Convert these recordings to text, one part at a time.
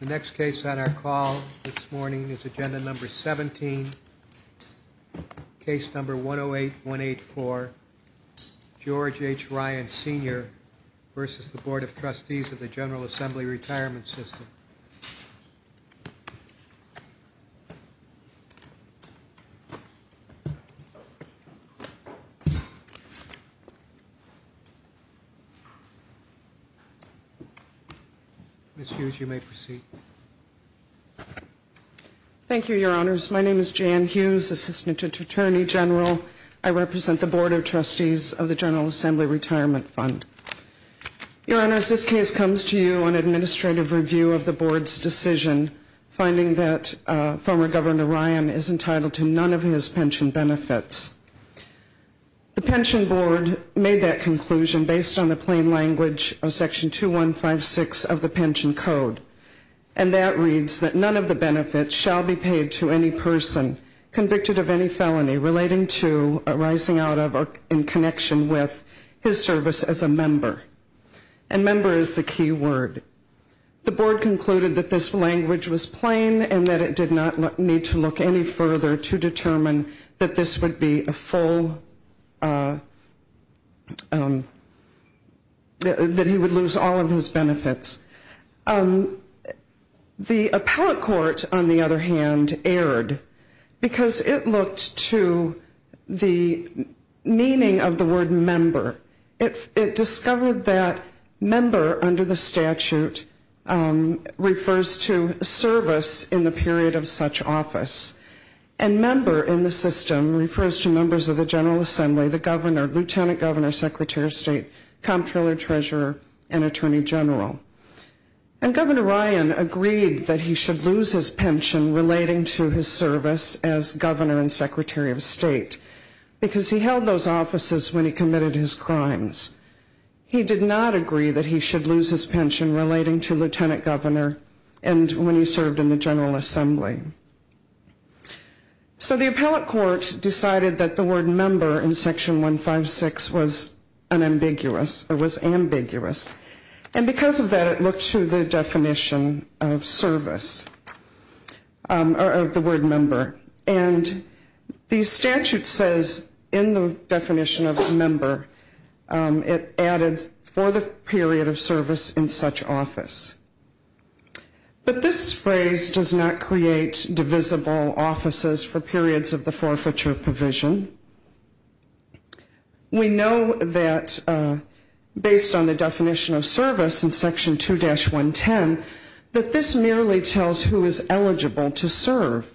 The next case on our call this morning is Agenda Number 17, Case Number 108184, George H. Ryan Sr. v. Board of Trustees of the General Assembly Retirement System. Ms. Hughes, you may proceed. Thank you, Your Honors. My name is Jan Hughes, Assistant Attorney General. I represent the Board of Trustees of the General Assembly Retirement Fund. Your Honors, this case comes to you on administrative review of the Board's decision finding that former Governor Ryan is entitled to none of his pension benefits. The Pension Board made that conclusion based on the plain language of Section 2156 of the Pension Code. And that reads that none of the benefits shall be paid to any person convicted of any felony relating to arising out of or in connection with his service as a member. And member is the key word. The Board concluded that this language was plain and that it did not need to look any further to determine that this would be a full, that he would lose all of his benefits. The appellate court, on the other hand, erred because it looked to the meaning of the word member. It discovered that member under the statute refers to service in the period of such office. And member in the system refers to members of the General Assembly, the Governor, Lieutenant Governor, Secretary of State, Comptroller, Treasurer, and Attorney General. And Governor Ryan agreed that he should lose his pension relating to his service as Governor and Secretary of State because he held those offices when he committed his crimes. He did not agree that he should lose his pension relating to Lieutenant Governor and when he served in the General Assembly. So the appellate court decided that the word member in Section 156 was ambiguous. And because of that, it looked to the definition of service, or the word member. And the statute says in the definition of member, it added for the period of service in such office. But this phrase does not create divisible offices for periods of the forfeiture provision. We know that based on the definition of service in Section 2-110, that this merely tells who is eligible to serve.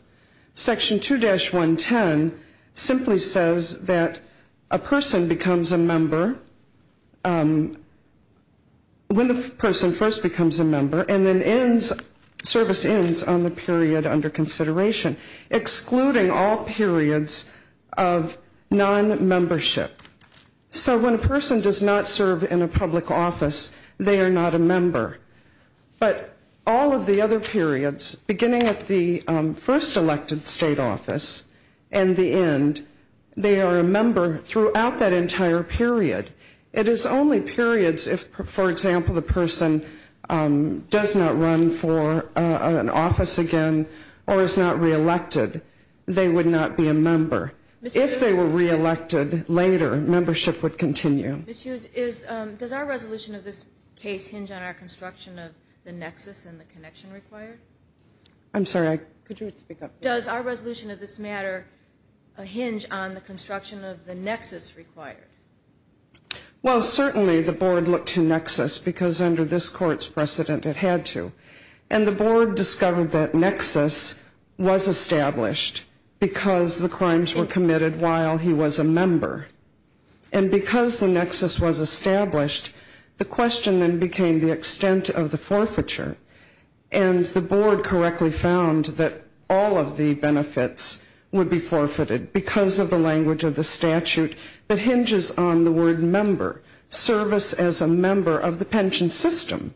Section 2-110 simply says that a person becomes a member when the person first becomes a member and then service ends on the period under consideration, excluding all periods of non-membership. So when a person does not serve in a public office, they are not a member. But all of the other periods, beginning at the first elected state office and the end, they are a member throughout that entire period. It is only periods if, for example, the person does not run for an office again or is not re-elected, they would not be a member. If they were re-elected later, membership would continue. Ms. Hughes, does our resolution of this case hinge on our construction of the nexus and the connection required? Well, certainly the board looked to nexus because under this court's precedent it had to. And the board discovered that nexus was established because the crimes were committed while he was a member. And because the nexus was established, the question then became the extent of the forfeiture. And the board correctly found that all of the benefits would be forfeited because of the language of the statute that hinges on the word member, service as a member of the pension system.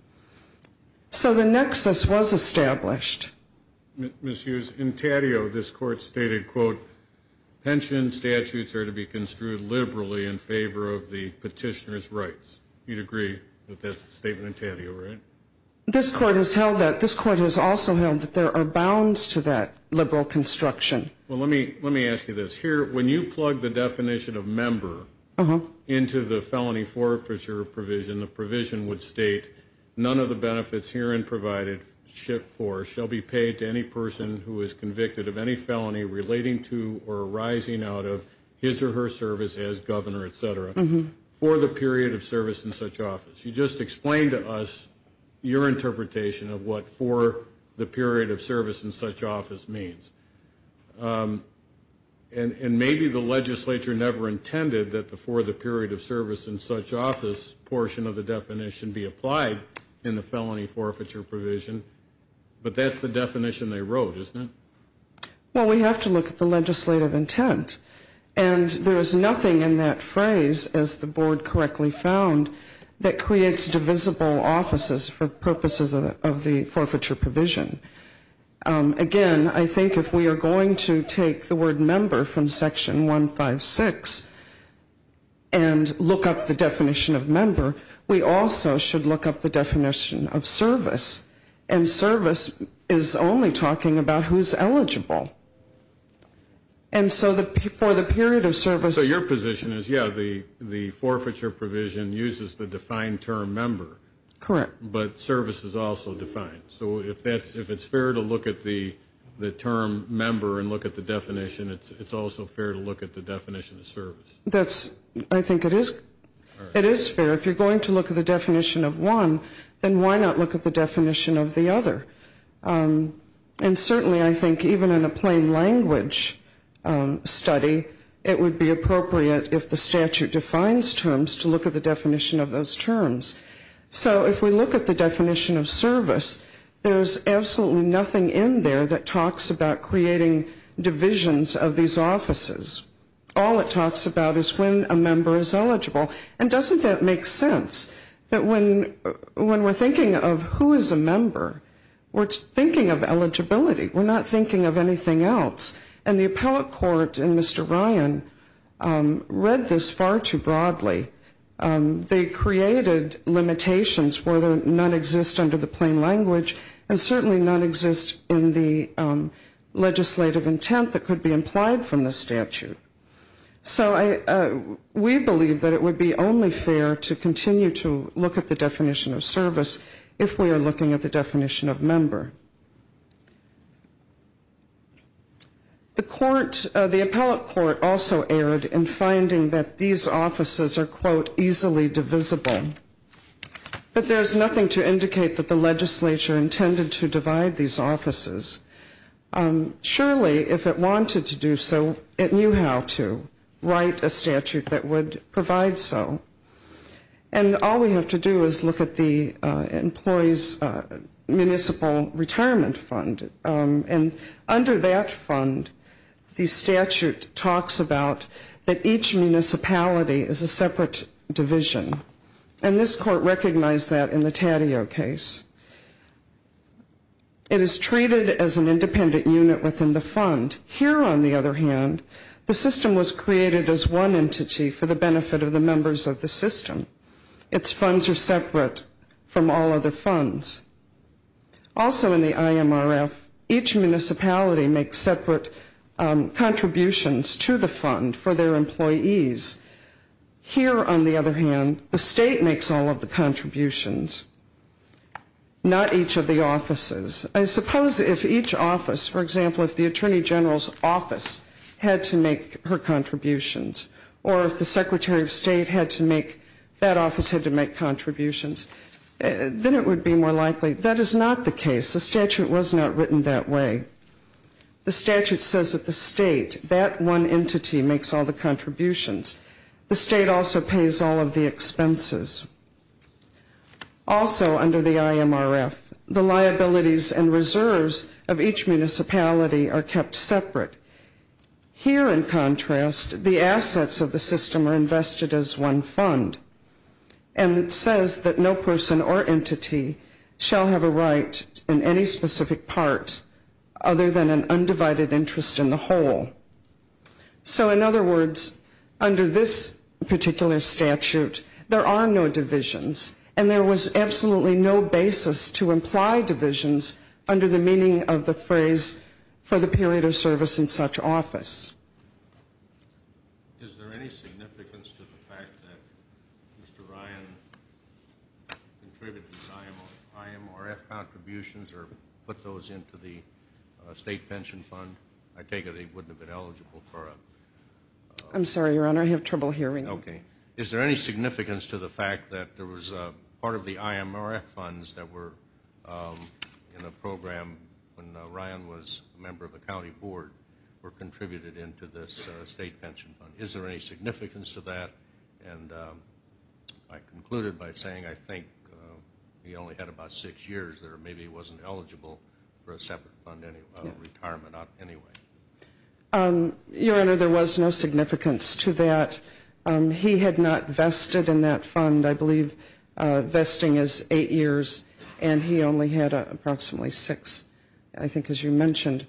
So the nexus was established. Ms. Hughes, in Taddeo this court stated, quote, pension statutes are to be construed liberally in favor of the petitioner's rights. You'd agree that that's the statement in Taddeo, right? This court has also held that there are bounds to that liberal construction. Well, let me ask you this. Here, when you plug the definition of member into the felony forfeiture provision, the provision would state, none of the benefits herein provided shall be paid to any person who is convicted of any felony relating to or arising out of his or her service as governor, et cetera, for the period of service in such office. You just explained to us your interpretation of what for the period of service in such office means. And maybe the legislature never intended that the for the period of service in such office portion of the definition be applied in the felony forfeiture provision. But that's the definition they wrote, isn't it? Well, we have to look at the legislative intent. And there is nothing in that phrase, as the board correctly found, that creates divisible offices for purposes of the forfeiture provision. Again, I think if we are going to take the word member from section 156 and look up the definition of member, we also should look up the definition of service. And service is only talking about who's eligible. And so for the period of service So your position is, yeah, the forfeiture provision uses the defined term member. Correct. But service is also defined. So if it's fair to look at the term member and look at the definition, it's also fair to look at the definition of service. I think it is fair. If you're going to look at the definition of one, then why not look at the definition of the other? And certainly I think even in a plain language study, it would be appropriate if the statute defines terms to look at the definition of those terms. So if we look at the definition of service, there's absolutely nothing in there that talks about creating divisions of these offices. All it talks about is when a member is eligible. And doesn't that make sense? That when we're thinking of who is a member, we're thinking of eligibility. We're not thinking of anything else. And the appellate court in Mr. Ryan read this far too broadly. They created limitations where none exist under the plain language and certainly none exist in the legislative intent that could be implied from the statute. So we believe that it would be only fair to continue to look at the definition of service if we are looking at the definition of member. The court, the appellate court also erred in finding that these offices are, quote, easily divisible. But there's nothing to indicate that the legislature intended to divide these offices. Surely if it wanted to do so, it knew how to write a statute that would provide so. And all we have to do is look at the employee's municipal retirement fund. And under that fund, the statute talks about that each municipality is a separate division. And this court recognized that in the Taddeo case. It is treated as an independent unit within the fund. Here, on the other hand, the system was created as one entity for the benefit of the members of the system. Its funds are separate from all other funds. Also in the IMRF, each municipality makes separate contributions to the fund for their employees. Here, on the other hand, the state makes all of the contributions, not each of the offices. I suppose if each office, for example, if the Attorney General's office had to make her contributions, or if the Secretary of State had to make, that office had to make contributions, then it would be more likely. That is not the case. The statute was not written that way. The statute says that the state, that one entity, makes all the contributions. The state also pays all of the expenses. Also under the IMRF, the liabilities and reserves of each municipality are kept separate. Here, in contrast, the assets of the system are invested as one fund. And it says that no person or entity shall have a right in any specific part other than an undivided interest in the whole. So in other words, under this particular statute, there are no divisions. And there was absolutely no basis to imply divisions under the meaning of the phrase, for the period of service in such office. I'm sorry, Your Honor, I have trouble hearing you. Your Honor, there was no significance to that. He had not vested in that fund. I believe vesting is eight years, and he only had approximately six, I think, as you mentioned.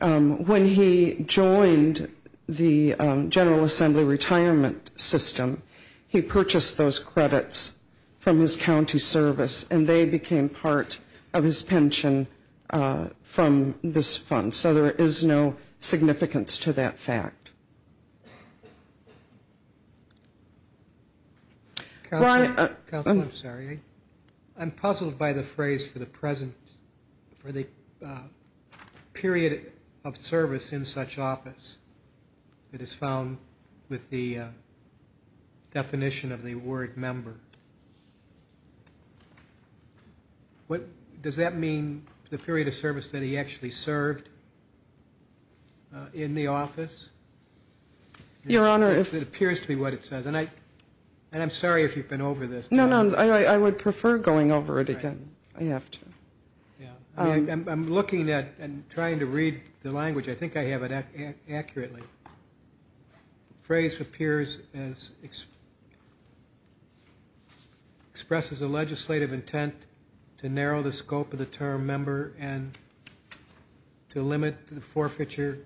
When he joined the General Assembly retirement system, he purchased those credits from his county service, and they became part of his pension from this fund. So there is no significance to that fact. I'm puzzled by the phrase, for the period of service in such office. It is found with the definition of the word member. Does that mean the period of service that he actually served in the office? It appears to be what it says. And I'm sorry if you've been over this. No, no, I would prefer going over it again. I have to. I'm looking at and trying to read the language. I think I have it accurately. The phrase appears as... expresses a legislative intent to narrow the scope of the term member and to limit the forfeiture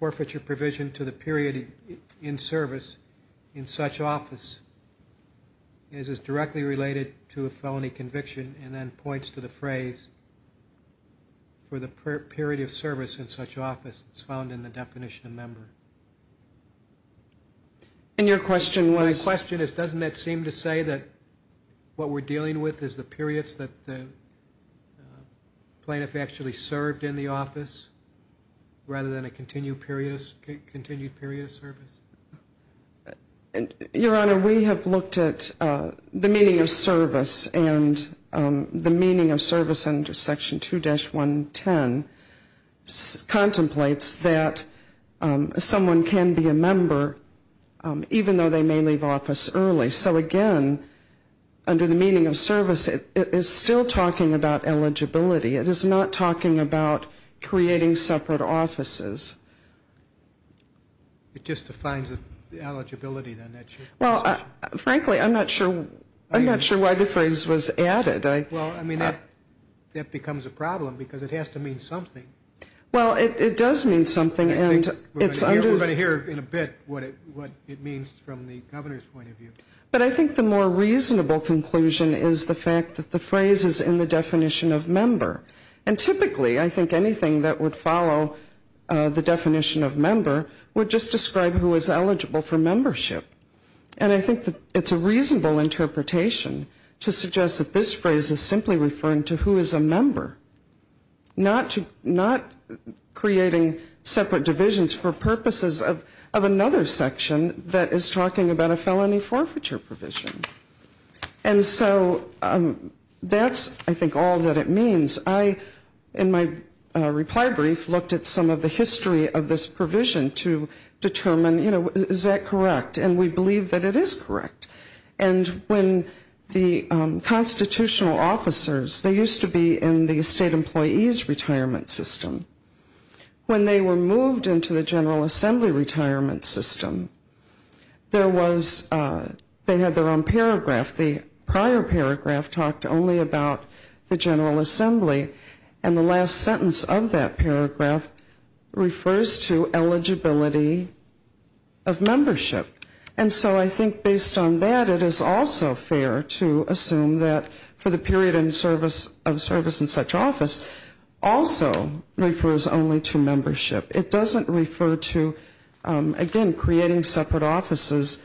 provision to the period in service in such office, as is directly related to a felony conviction, and then points to the phrase, for the period of service in such office. It's found in the definition of member. And your question was? My question is, doesn't that seem to say that what we're dealing with is the periods that the plaintiff actually served in the office, rather than a continued period of service? Your Honor, we have looked at the meaning of service, and the meaning of service under Section 2-110 contemplates that someone can be a member, even though they may leave office early. So again, under the meaning of service, it is still talking about eligibility. It is not talking about creating separate offices. It just defines the eligibility, then? Well, frankly, I'm not sure why the phrase was added. Well, I mean, that becomes a problem, because it has to mean something. Well, it does mean something, and it's under... The definition of member would just describe who is eligible for membership. And I think that it's a reasonable interpretation to suggest that this phrase is simply referring to who is a member, not creating separate divisions for purposes of another section that is talking about a felony forfeiture provision. And so that's, I think, all that it means. I, in my reply brief, looked at some of the history of this provision to determine, you know, is that correct? And we believe that it is correct. And when the constitutional officers, they used to be in the state employee's retirement system. When they were moved into the General Assembly retirement system, there was, they had their own paragraph. The prior paragraph talked only about the General Assembly. And the last sentence of that paragraph refers to eligibility of membership. And so I think based on that, it is also fair to assume that for the period of service in such office also refers only to membership. It doesn't refer to, again, creating separate offices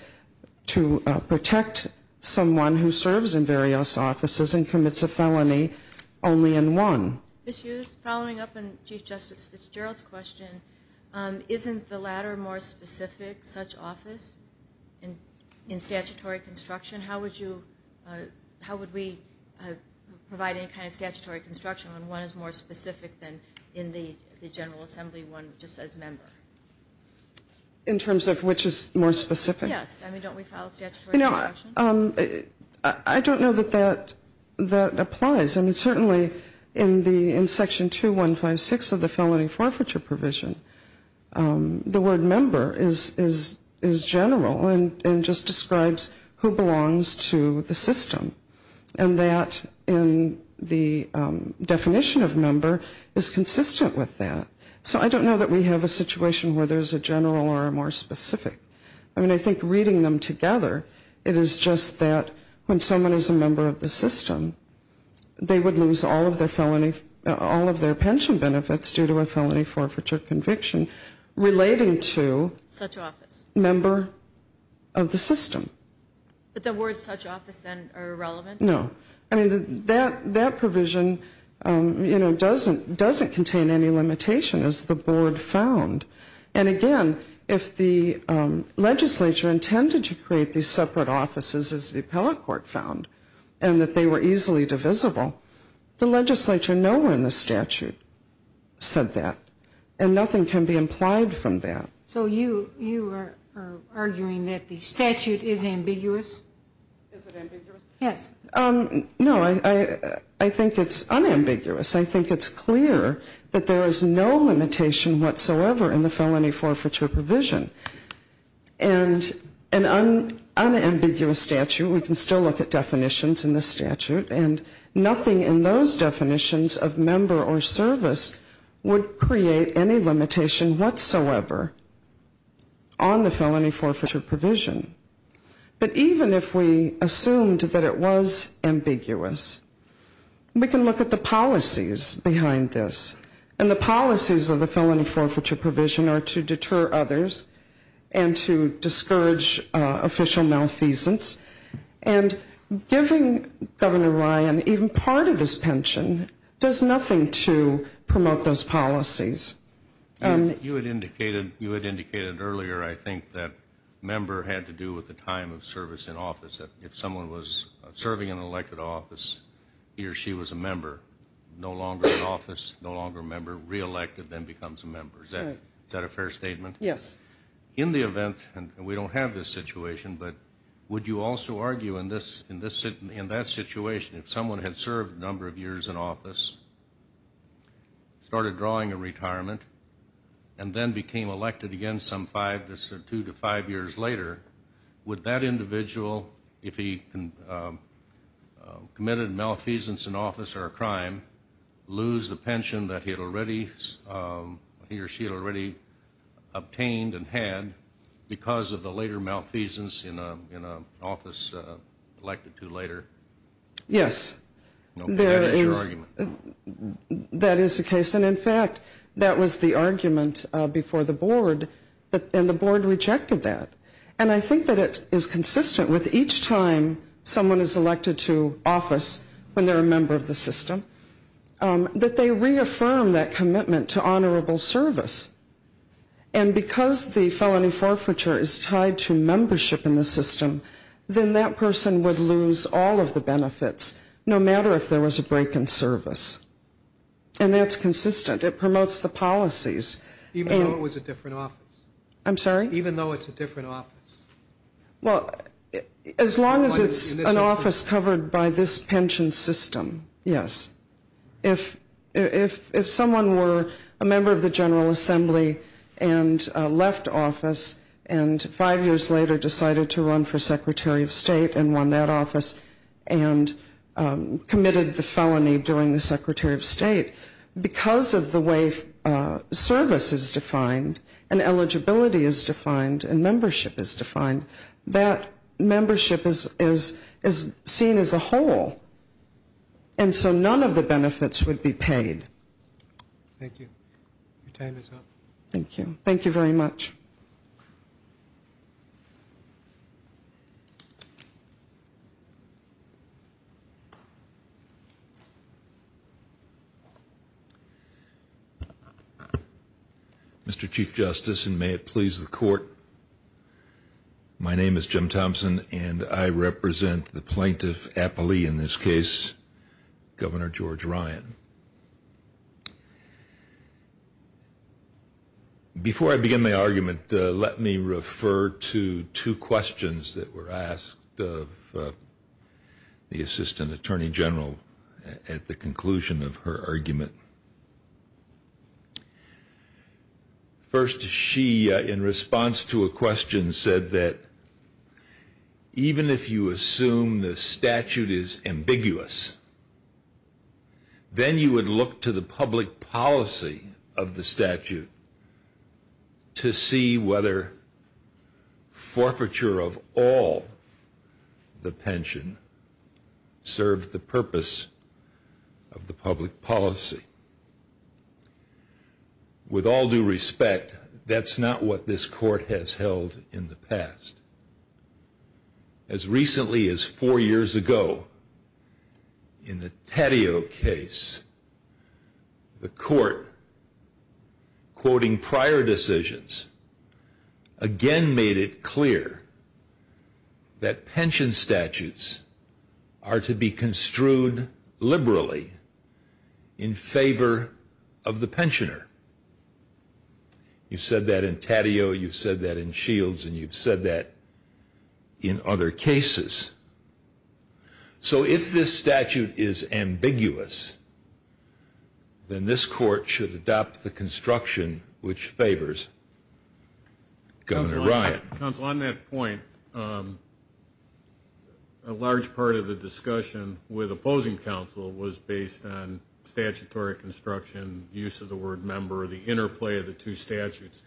to protect someone who is a member. It refers to someone who serves in various offices and commits a felony only in one. Ms. Hughes, following up on Chief Justice Fitzgerald's question, isn't the latter more specific, such office, in statutory construction? How would you, how would we provide any kind of statutory construction when one is more specific than in the General Assembly, one just says member? In terms of which is more specific? Yes. I mean, don't we file a statutory construction? I don't know that that applies. I mean, certainly in Section 2156 of the Felony Forfeiture Provision, the word member is general and just describes who belongs to the system. And that in the definition of member is consistent with that. So I don't know that we have a situation where there's a general or a more specific. I mean, I think reading them together, it is just that when someone is a member of the system, they would lose all of their pension benefits due to a felony forfeiture conviction relating to member of the system. But the words such office then are irrelevant? No. I mean, that provision, you know, doesn't contain any limitation, as the board found. And again, if the legislature intended to create these separate offices, as the appellate court found, and that they were easily divisible, the legislature nowhere in the statute said that. And nothing can be implied from that. So you are arguing that the statute is ambiguous? Is it ambiguous? Yes. No, I think it's unambiguous. I think it's clear that there is no limitation whatsoever in the Felony Forfeiture Provision. And an unambiguous statute, we can still look at definitions in the statute, and nothing in those definitions of member or service would create any limitation whatsoever on the Felony Forfeiture Provision. But even if we assumed that it was ambiguous, we can look at the policies behind this. And the policies of the Felony Forfeiture Provision are to deter others and to discourage official malfeasance. And giving Governor Ryan even part of his pension does nothing to promote those policies. You had indicated earlier, I think, that member had to do with the time of service in office, that if someone was serving in an elected office, he or she was a member, no longer in office, no longer a member, re-elected, then becomes a member. Is that a fair statement? Yes. In the event, and we don't have this situation, but would you also argue in that situation, if someone had served a number of years in office, started drawing a retirement, and then retired, would that be considered a member? Yes. Okay, that is your argument. That is the case. And in fact, that would be considered a member. That was the argument before the board, and the board rejected that. And I think that it is consistent with each time someone is elected to office, when they're a member of the system, that they reaffirm that commitment to honorable service. And because the felony forfeiture is tied to membership in the system, then that person would lose all of the benefits, no matter if there was a break in service. And that's consistent. It promotes the policies. Even though it was a different office? I'm sorry? Even though it's a different office? Well, as long as it's an office covered by this pension system, yes. If someone were a member of the General Assembly, and left office, and five years later decided to run for Secretary of State, and won that office, and committed the felony during the Secretary of State, because of the way service is defined, and eligibility is defined, and membership is defined, that membership is seen as a whole. And so none of the benefits would be paid. Thank you. Your time is up. Thank you. Thank you very much. Mr. Chief Justice, and may it please the Court, my name is Jim Thompson, and I represent the plaintiff, Apolli, in this case, Governor George Ryan. Before I begin my argument, let me refer to two questions that were asked of the Assistant Attorney General at the conclusion of her argument. First, she, in response to a question, said that, even if you assume the statute is ambiguous, then it is ambiguous. Then you would look to the public policy of the statute to see whether forfeiture of all the pension served the purpose of the public policy. With all due respect, that's not what this Court has held in the past. As recently as four years ago, in the Taddeo case, the Court, quoting prior decisions, again made it clear that pension statutes are to be construed liberally in favor of the pensioner. You've said that in Taddeo, you've said that in Shields, and you've said that in other cases. So, if this statute is ambiguous, then this Court should adopt the construction which favors Governor Ryan. Counsel, on that point, a large part of the discussion with opposing counsel was based on statutory construction, use of the word member, the term member. The interplay of the two statutes.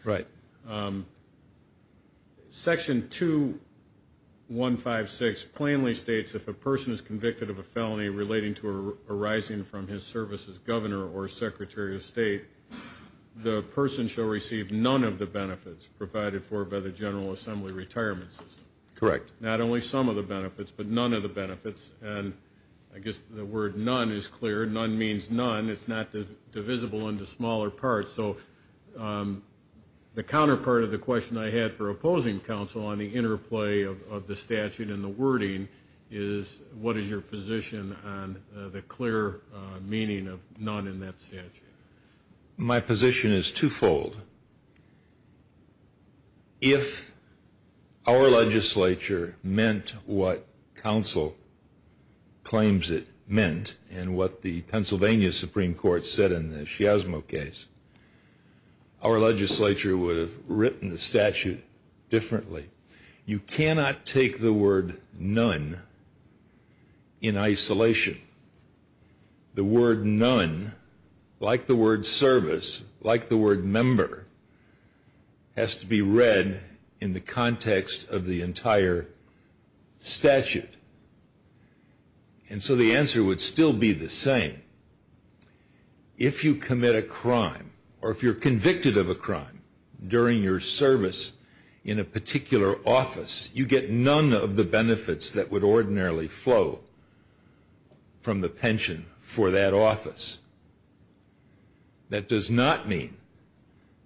Section 2156 plainly states, if a person is convicted of a felony relating to arising from his service as Governor or Secretary of State, the person shall receive none of the benefits provided for by the General Assembly retirement system. Not only some of the benefits, but none of the benefits. I guess the word none is clear. None means none. It's not divisible into smaller parts. So, the counterpart of the question I had for opposing counsel on the interplay of the statute and the wording is, what is your position on the clear meaning of none in that statute? My position is twofold. If our legislature meant what counsel claims it meant, and what the Pennsylvania Supreme Court said in the Shiasmo case, our legislature would have written the statute differently. You cannot take the word none in isolation. The word none, like the word service, like the word member, has to be read in the context of the entire statute. And so the answer would still be the same. If you commit a crime, or if you're convicted of a crime during your service in a particular office, you get none of the benefits that would ordinarily flow from the pension for that office. That does not mean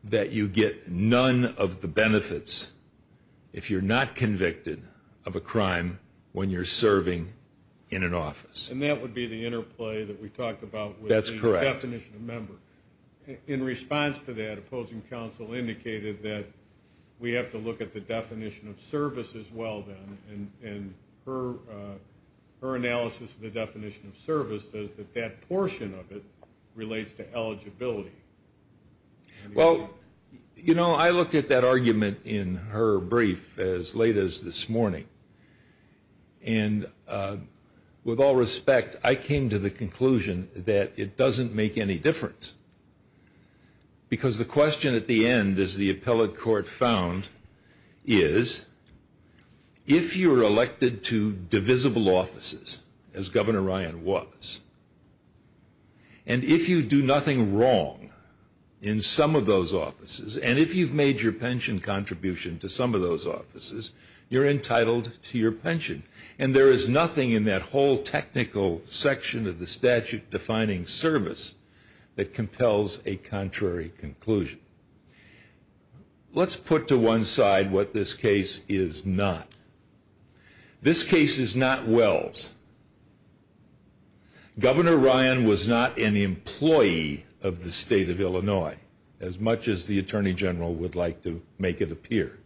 that you get none of the benefits if you're not convicted of a crime when you're serving. And that would be the interplay that we talked about with the definition of member. In response to that, opposing counsel indicated that we have to look at the definition of service as well, and her analysis of the definition of service says that that portion of it relates to eligibility. Well, you know, I looked at that argument in her brief as late as this morning, and with all respect, I came to the conclusion that it doesn't make any difference. Because the question at the end, as the appellate court found, is if you're elected to divisible offices, as Governor Ryan was, and if you do nothing wrong in some of those offices, and if you've made your pension contribution to some of those offices, you're entitled to your pension. And there is nothing in that whole technical section of the statute defining service that compels a contrary conclusion. Let's put to one side what this case is not. This case is not Wells. Governor Ryan was not an employee of the state of Illinois, as much as the Attorney General would like to make it appear.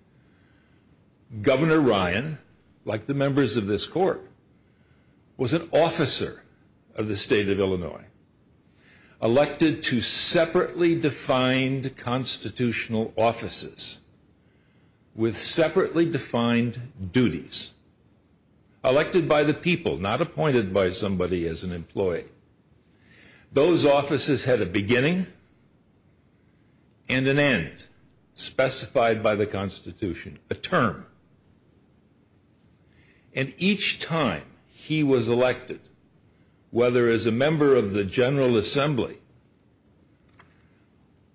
Governor Ryan, like the members of this court, was an officer of the state of Illinois, elected to separately defined constitutional offices, with separately defined duties, elected by the people, not appointed by somebody as an employee. Those offices had a beginning and an end, specified by the Constitution, a term. And each time he was elected, whether as a member of the General Assembly,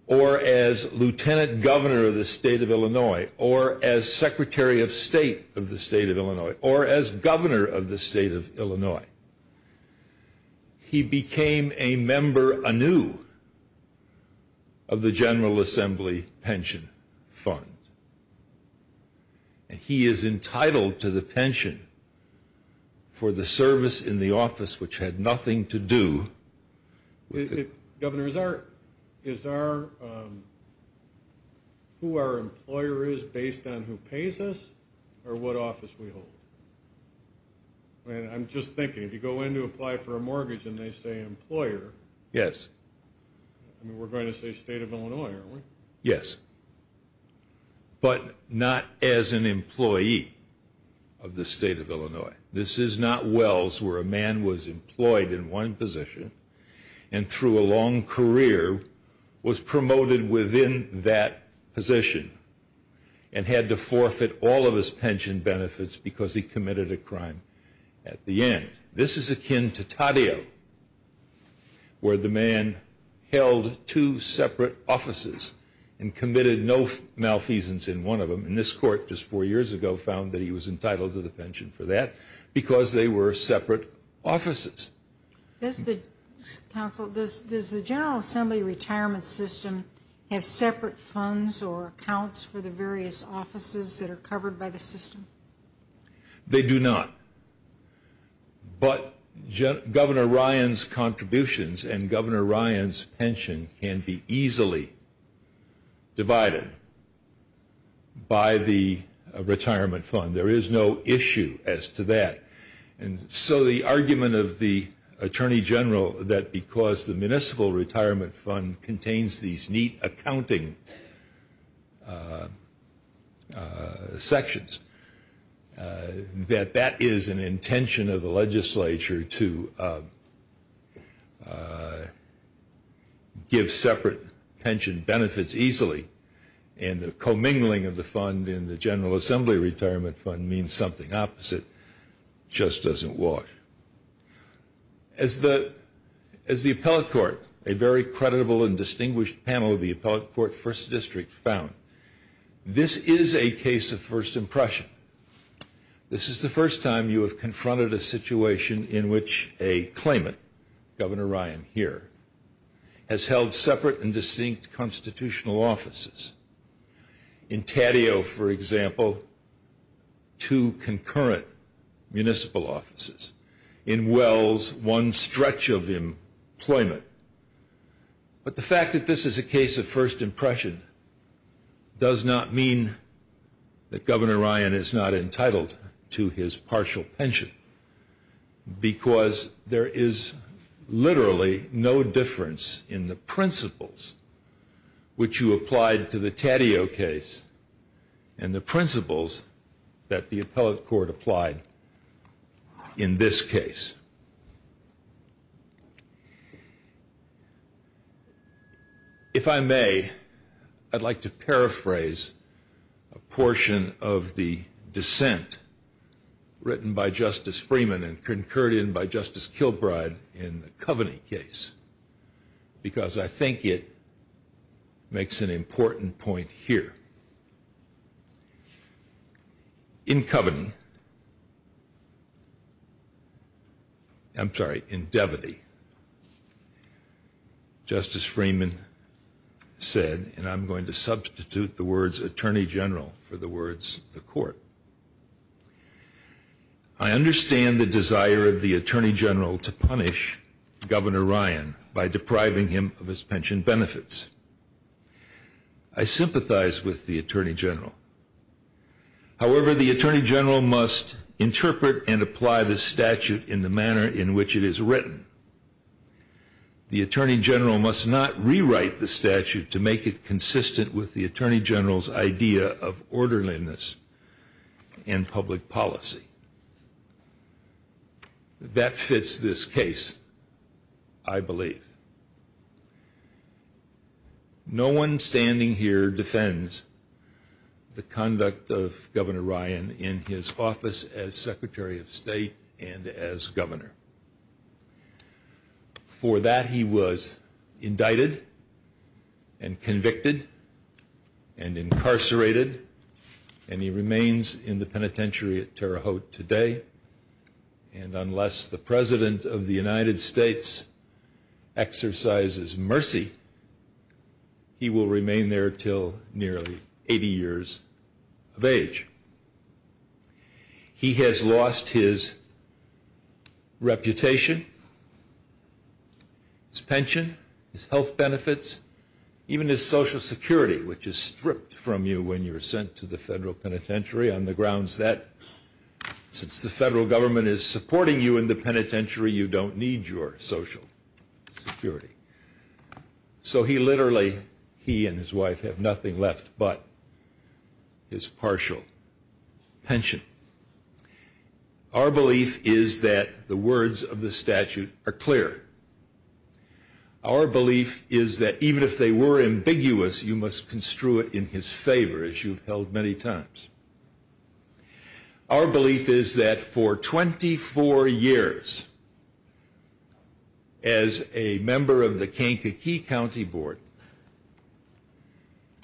or as Lieutenant Governor of the state of Illinois, or as Secretary of State of the state of Illinois, or as Governor of the state of Illinois, he became a member anew of the General Assembly Pension Fund. And he is entitled to the pension for the service in the office which had nothing to do with it. Governor, is our, who our employer is based on who pays us, or what office we hold? I'm just thinking, if you go in to apply for a mortgage and they say employer, Yes. I mean, we're going to say state of Illinois, aren't we? Yes. But not as an employee of the state of Illinois. This is not Wells, where a man was employed in one position, and through a long career, was promoted within that position, and had to forfeit all of his pension benefits because he committed a crime at the end. This is akin to Taddeo, where the man held two separate offices and committed no malfeasance in one of them. And this court, just four years ago, found that he was entitled to the pension for that because they were separate offices. Does the General Assembly retirement system have separate funds or accounts for the various offices that are covered by the system? They do not. But Governor Ryan's contributions and Governor Ryan's pension can be easily divided by the retirement fund. There is no issue as to that. And so the argument of the Attorney General that because the municipal retirement fund contains these neat accounting sections, that that is an intention of the legislature to give separate pension benefits easily. And the commingling of the fund in the General Assembly retirement fund means something opposite. It just doesn't work. As the appellate court, a very credible and distinguished panel of the appellate court first district found, this is a case of first impression. This is the first time you have confronted a situation in which a claimant, Governor Ryan here, has held separate and distinct constitutional offices. In Taddeo, for example, two concurrent municipal offices. In Wells, one stretch of employment. But the fact that this is a case of first impression does not mean that Governor Ryan is not entitled to his partial pension because there is literally no difference in the principles which you applied to the Taddeo case and the principles that the appellate court applied in this case. If I may, I'd like to paraphrase a portion of the dissent written by Justice Freeman and concurred in by Justice Kilbride in the Coveney case because I think it makes an important point here. In Coveney, I'm sorry, in Devity, Justice Freeman said, and I'm going to substitute the words attorney general for the words the court. I understand the desire of the attorney general to punish Governor Ryan by depriving him of his pension benefits. I sympathize with the attorney general. However, the attorney general must interpret and apply the statute in the manner in which it is written. The attorney general must not rewrite the statute to make it consistent with the attorney general's idea of orderliness and public policy. That fits this case, I believe. No one standing here defends the conduct of Governor Ryan in his office as Secretary of State and as Governor. For that, he was indicted and convicted and incarcerated and he remains in the penitentiary at Terre Haute today and unless the President of the United States exercises mercy, he will remain there until nearly 80 years of age. He has lost his reputation, his pension, his health benefits, even his Social Security, which is stripped from you when you're sent to the federal penitentiary on the grounds that since the federal government is supporting you in the penitentiary, you don't need your Social Security. So he literally, he and his wife, have nothing left but his partial pension. Our belief is that the words of the statute are clear. Our belief is that even if they were ambiguous, you must construe it in his favor, as you've held many times. Our belief is that for 24 years, as a member of the Kankakee County Board,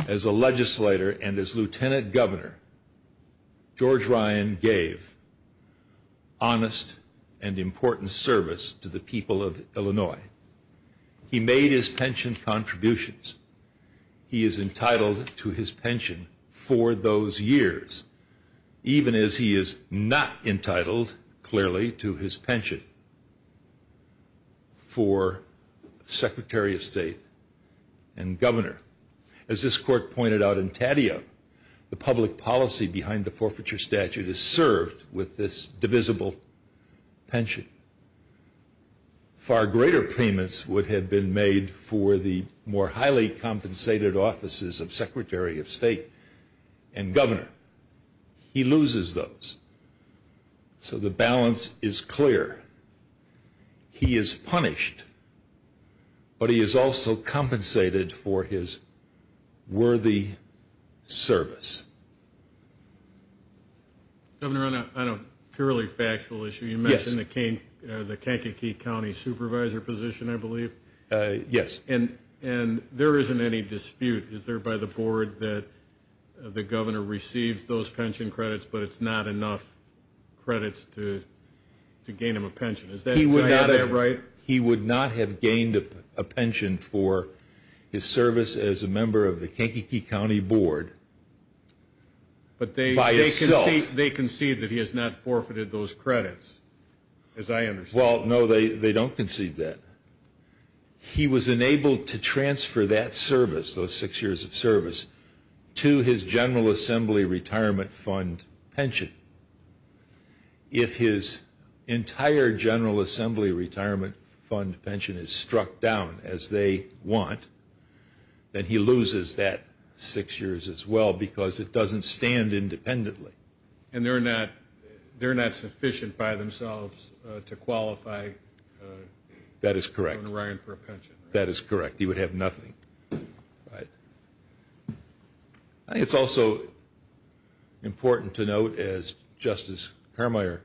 as a legislator and as Lieutenant Governor, George Ryan gave honest and important service to the people of Illinois. He made his pension contributions. He is entitled to his pension for those years, even as he is not entitled, clearly, to his pension. for Secretary of State and Governor. As this court pointed out in Tatio, the public policy behind the forfeiture statute is served with this divisible pension. Far greater payments would have been made for the more highly compensated offices of Secretary of State and Governor. He loses those. So the balance is clear. He is punished, but he is also compensated for his worthy service. Governor, on a purely factual issue, you mentioned the Kankakee County Supervisor position, I believe. Yes. He would not have gained a pension for his service as a member of the Kankakee County Board by himself. But they concede that he has not forfeited those credits, as I understand it. Well, no, they don't concede that. He was enabled to transfer that service, those six years of service, to his General Assembly Retirement Fund pension. If his entire General Assembly Retirement Fund pension is struck down as they want, then he loses that six years as well because it doesn't stand independently. And they're not sufficient by themselves to qualify Governor Ryan for a pension. That is correct. He would have nothing. It's also important to note, as Justice Carmier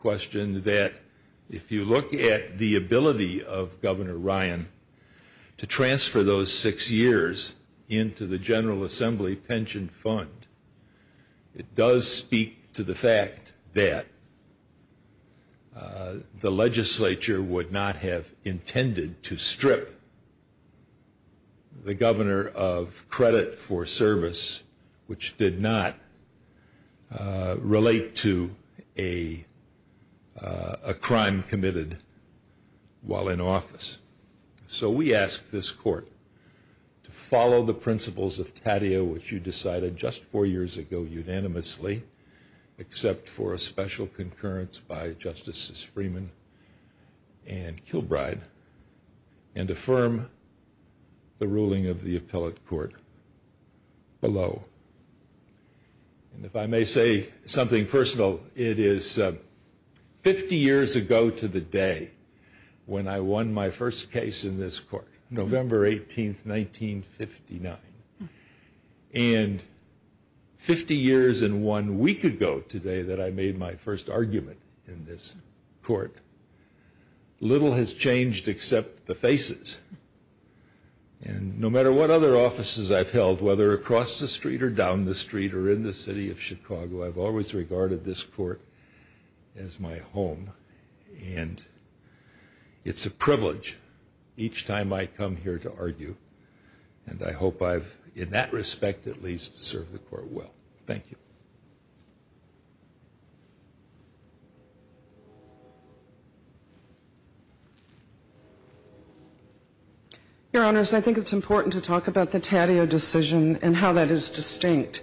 questioned, that if you look at the ability of Governor Ryan to transfer those six years into the General Assembly Pension Fund, it does speak to the fact that the legislature would not have intended to strip the governor of credit for service, which did not relate to a crime committed while in office. So we ask this Court to follow the principles of TATIA, which you decided just four years ago unanimously, except for a special concurrence by Justices Freeman and Kilbride, and affirm the ruling of the appellate court below. And if I may say something personal, it is 50 years ago to the day when I won my first case in this Court, November 18th, 1959. And 50 years and one week ago today that I made my first argument in this Court, little has changed except the faces. And no matter what other offices I've held, whether across the street or down the street or in the city of Chicago, I've always regarded this Court as my home. And it's a privilege each time I come here to argue, and I hope I've, in that respect at least, served the Court well. Thank you. Your Honors, I think it's important to talk about the TATIA decision and how that is distinct.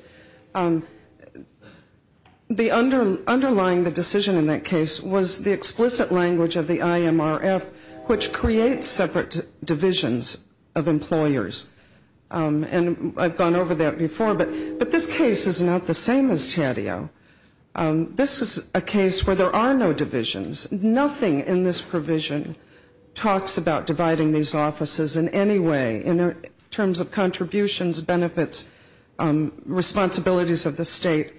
The underlying decision in that case was the explicit language of the IMRF, which creates separate divisions of employers. And I've gone over that before, but this case is not the same as TATIA. This is a case where there are no divisions. Nothing in this provision talks about dividing these offices in any way in terms of contributions, benefits, responsibilities of the state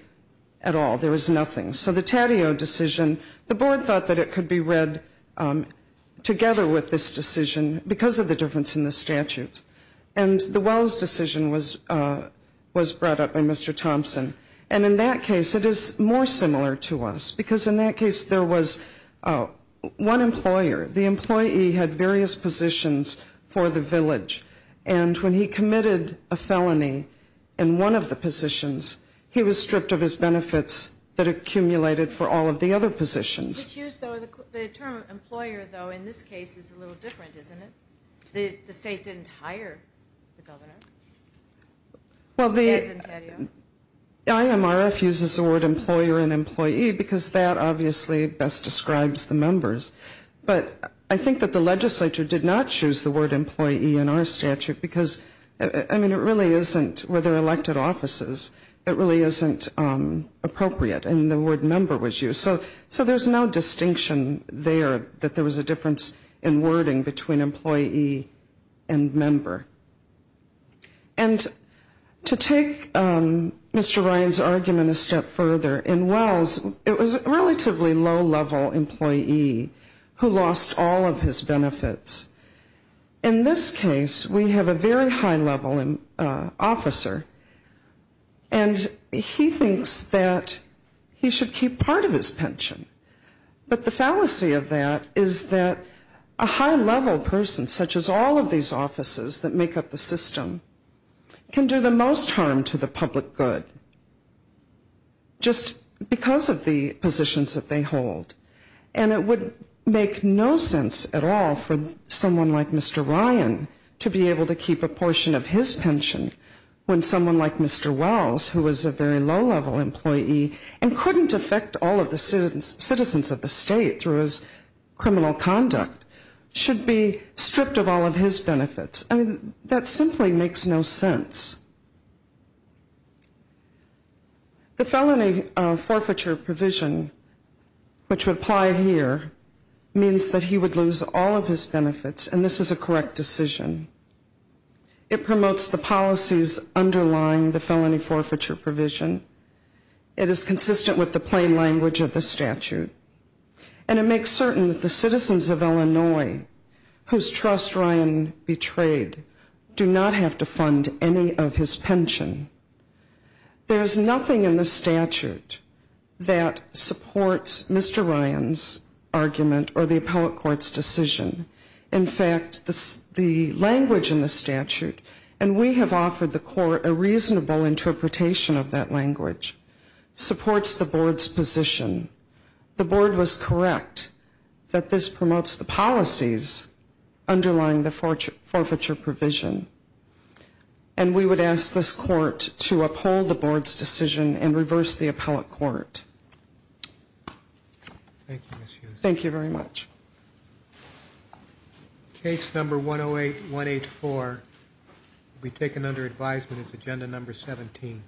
at all. There is nothing. So the TATIA decision, the Board thought that it could be read together with this decision because of the difference in the statute. And the Wells decision was brought up by Mr. Thompson. And in that case it is more similar to us in that it is more the village. And when he committed a felony in one of the positions, he was stripped of his benefits that accumulated for all of the other positions. The term employer, though, in this case is a little different, isn't it? The state didn't hire the governor. Well, the IMRF uses the word employer and employee because that obviously best describes the members. But I think that the legislature did not choose the word employee in our statute because, I mean, it really isn't, where there are elected offices, it really isn't appropriate. And the word member was used. So there is no distinction there that there was a difference in wording between employee and member. And to take Mr. Ryan's argument a step further, in Wells it was a relatively low-level employee who lost all of his benefits. In this case we have a very high-level officer and he thinks that he should keep part of his pension. But the fallacy of that is that a high-level person, such as all of these offices that make up the system, can do the most harm to the public good. Just because of the positions that they hold. And it would make no sense at all for someone like Mr. Ryan to be able to keep a portion of his pension when someone like Mr. Wells, who was a very low-level employee and couldn't affect all of the citizens of the state through his criminal conduct, should be stripped of all of his benefits. I mean, that simply makes no sense. The felony forfeiture provision, which would apply here, means that he would lose all of his benefits and this is a correct decision. It promotes the policies underlying the felony forfeiture provision. It is consistent with the plain language of the statute. And it makes certain that the citizens of Illinois, whose trust Ryan betrayed, do not have to fund any of his pension. There is nothing in the statute that supports Mr. Ryan's argument or the appellate court's decision. In fact, the language in the statute, and we have offered the court a reasonable interpretation of that language, supports the board's position. The board was correct that this promotes the policies underlying the forfeiture provision. And we would ask this court to uphold the board's decision and reverse the appellate court. Thank you very much. Case number 108184 will be taken under advisement as agenda number 17.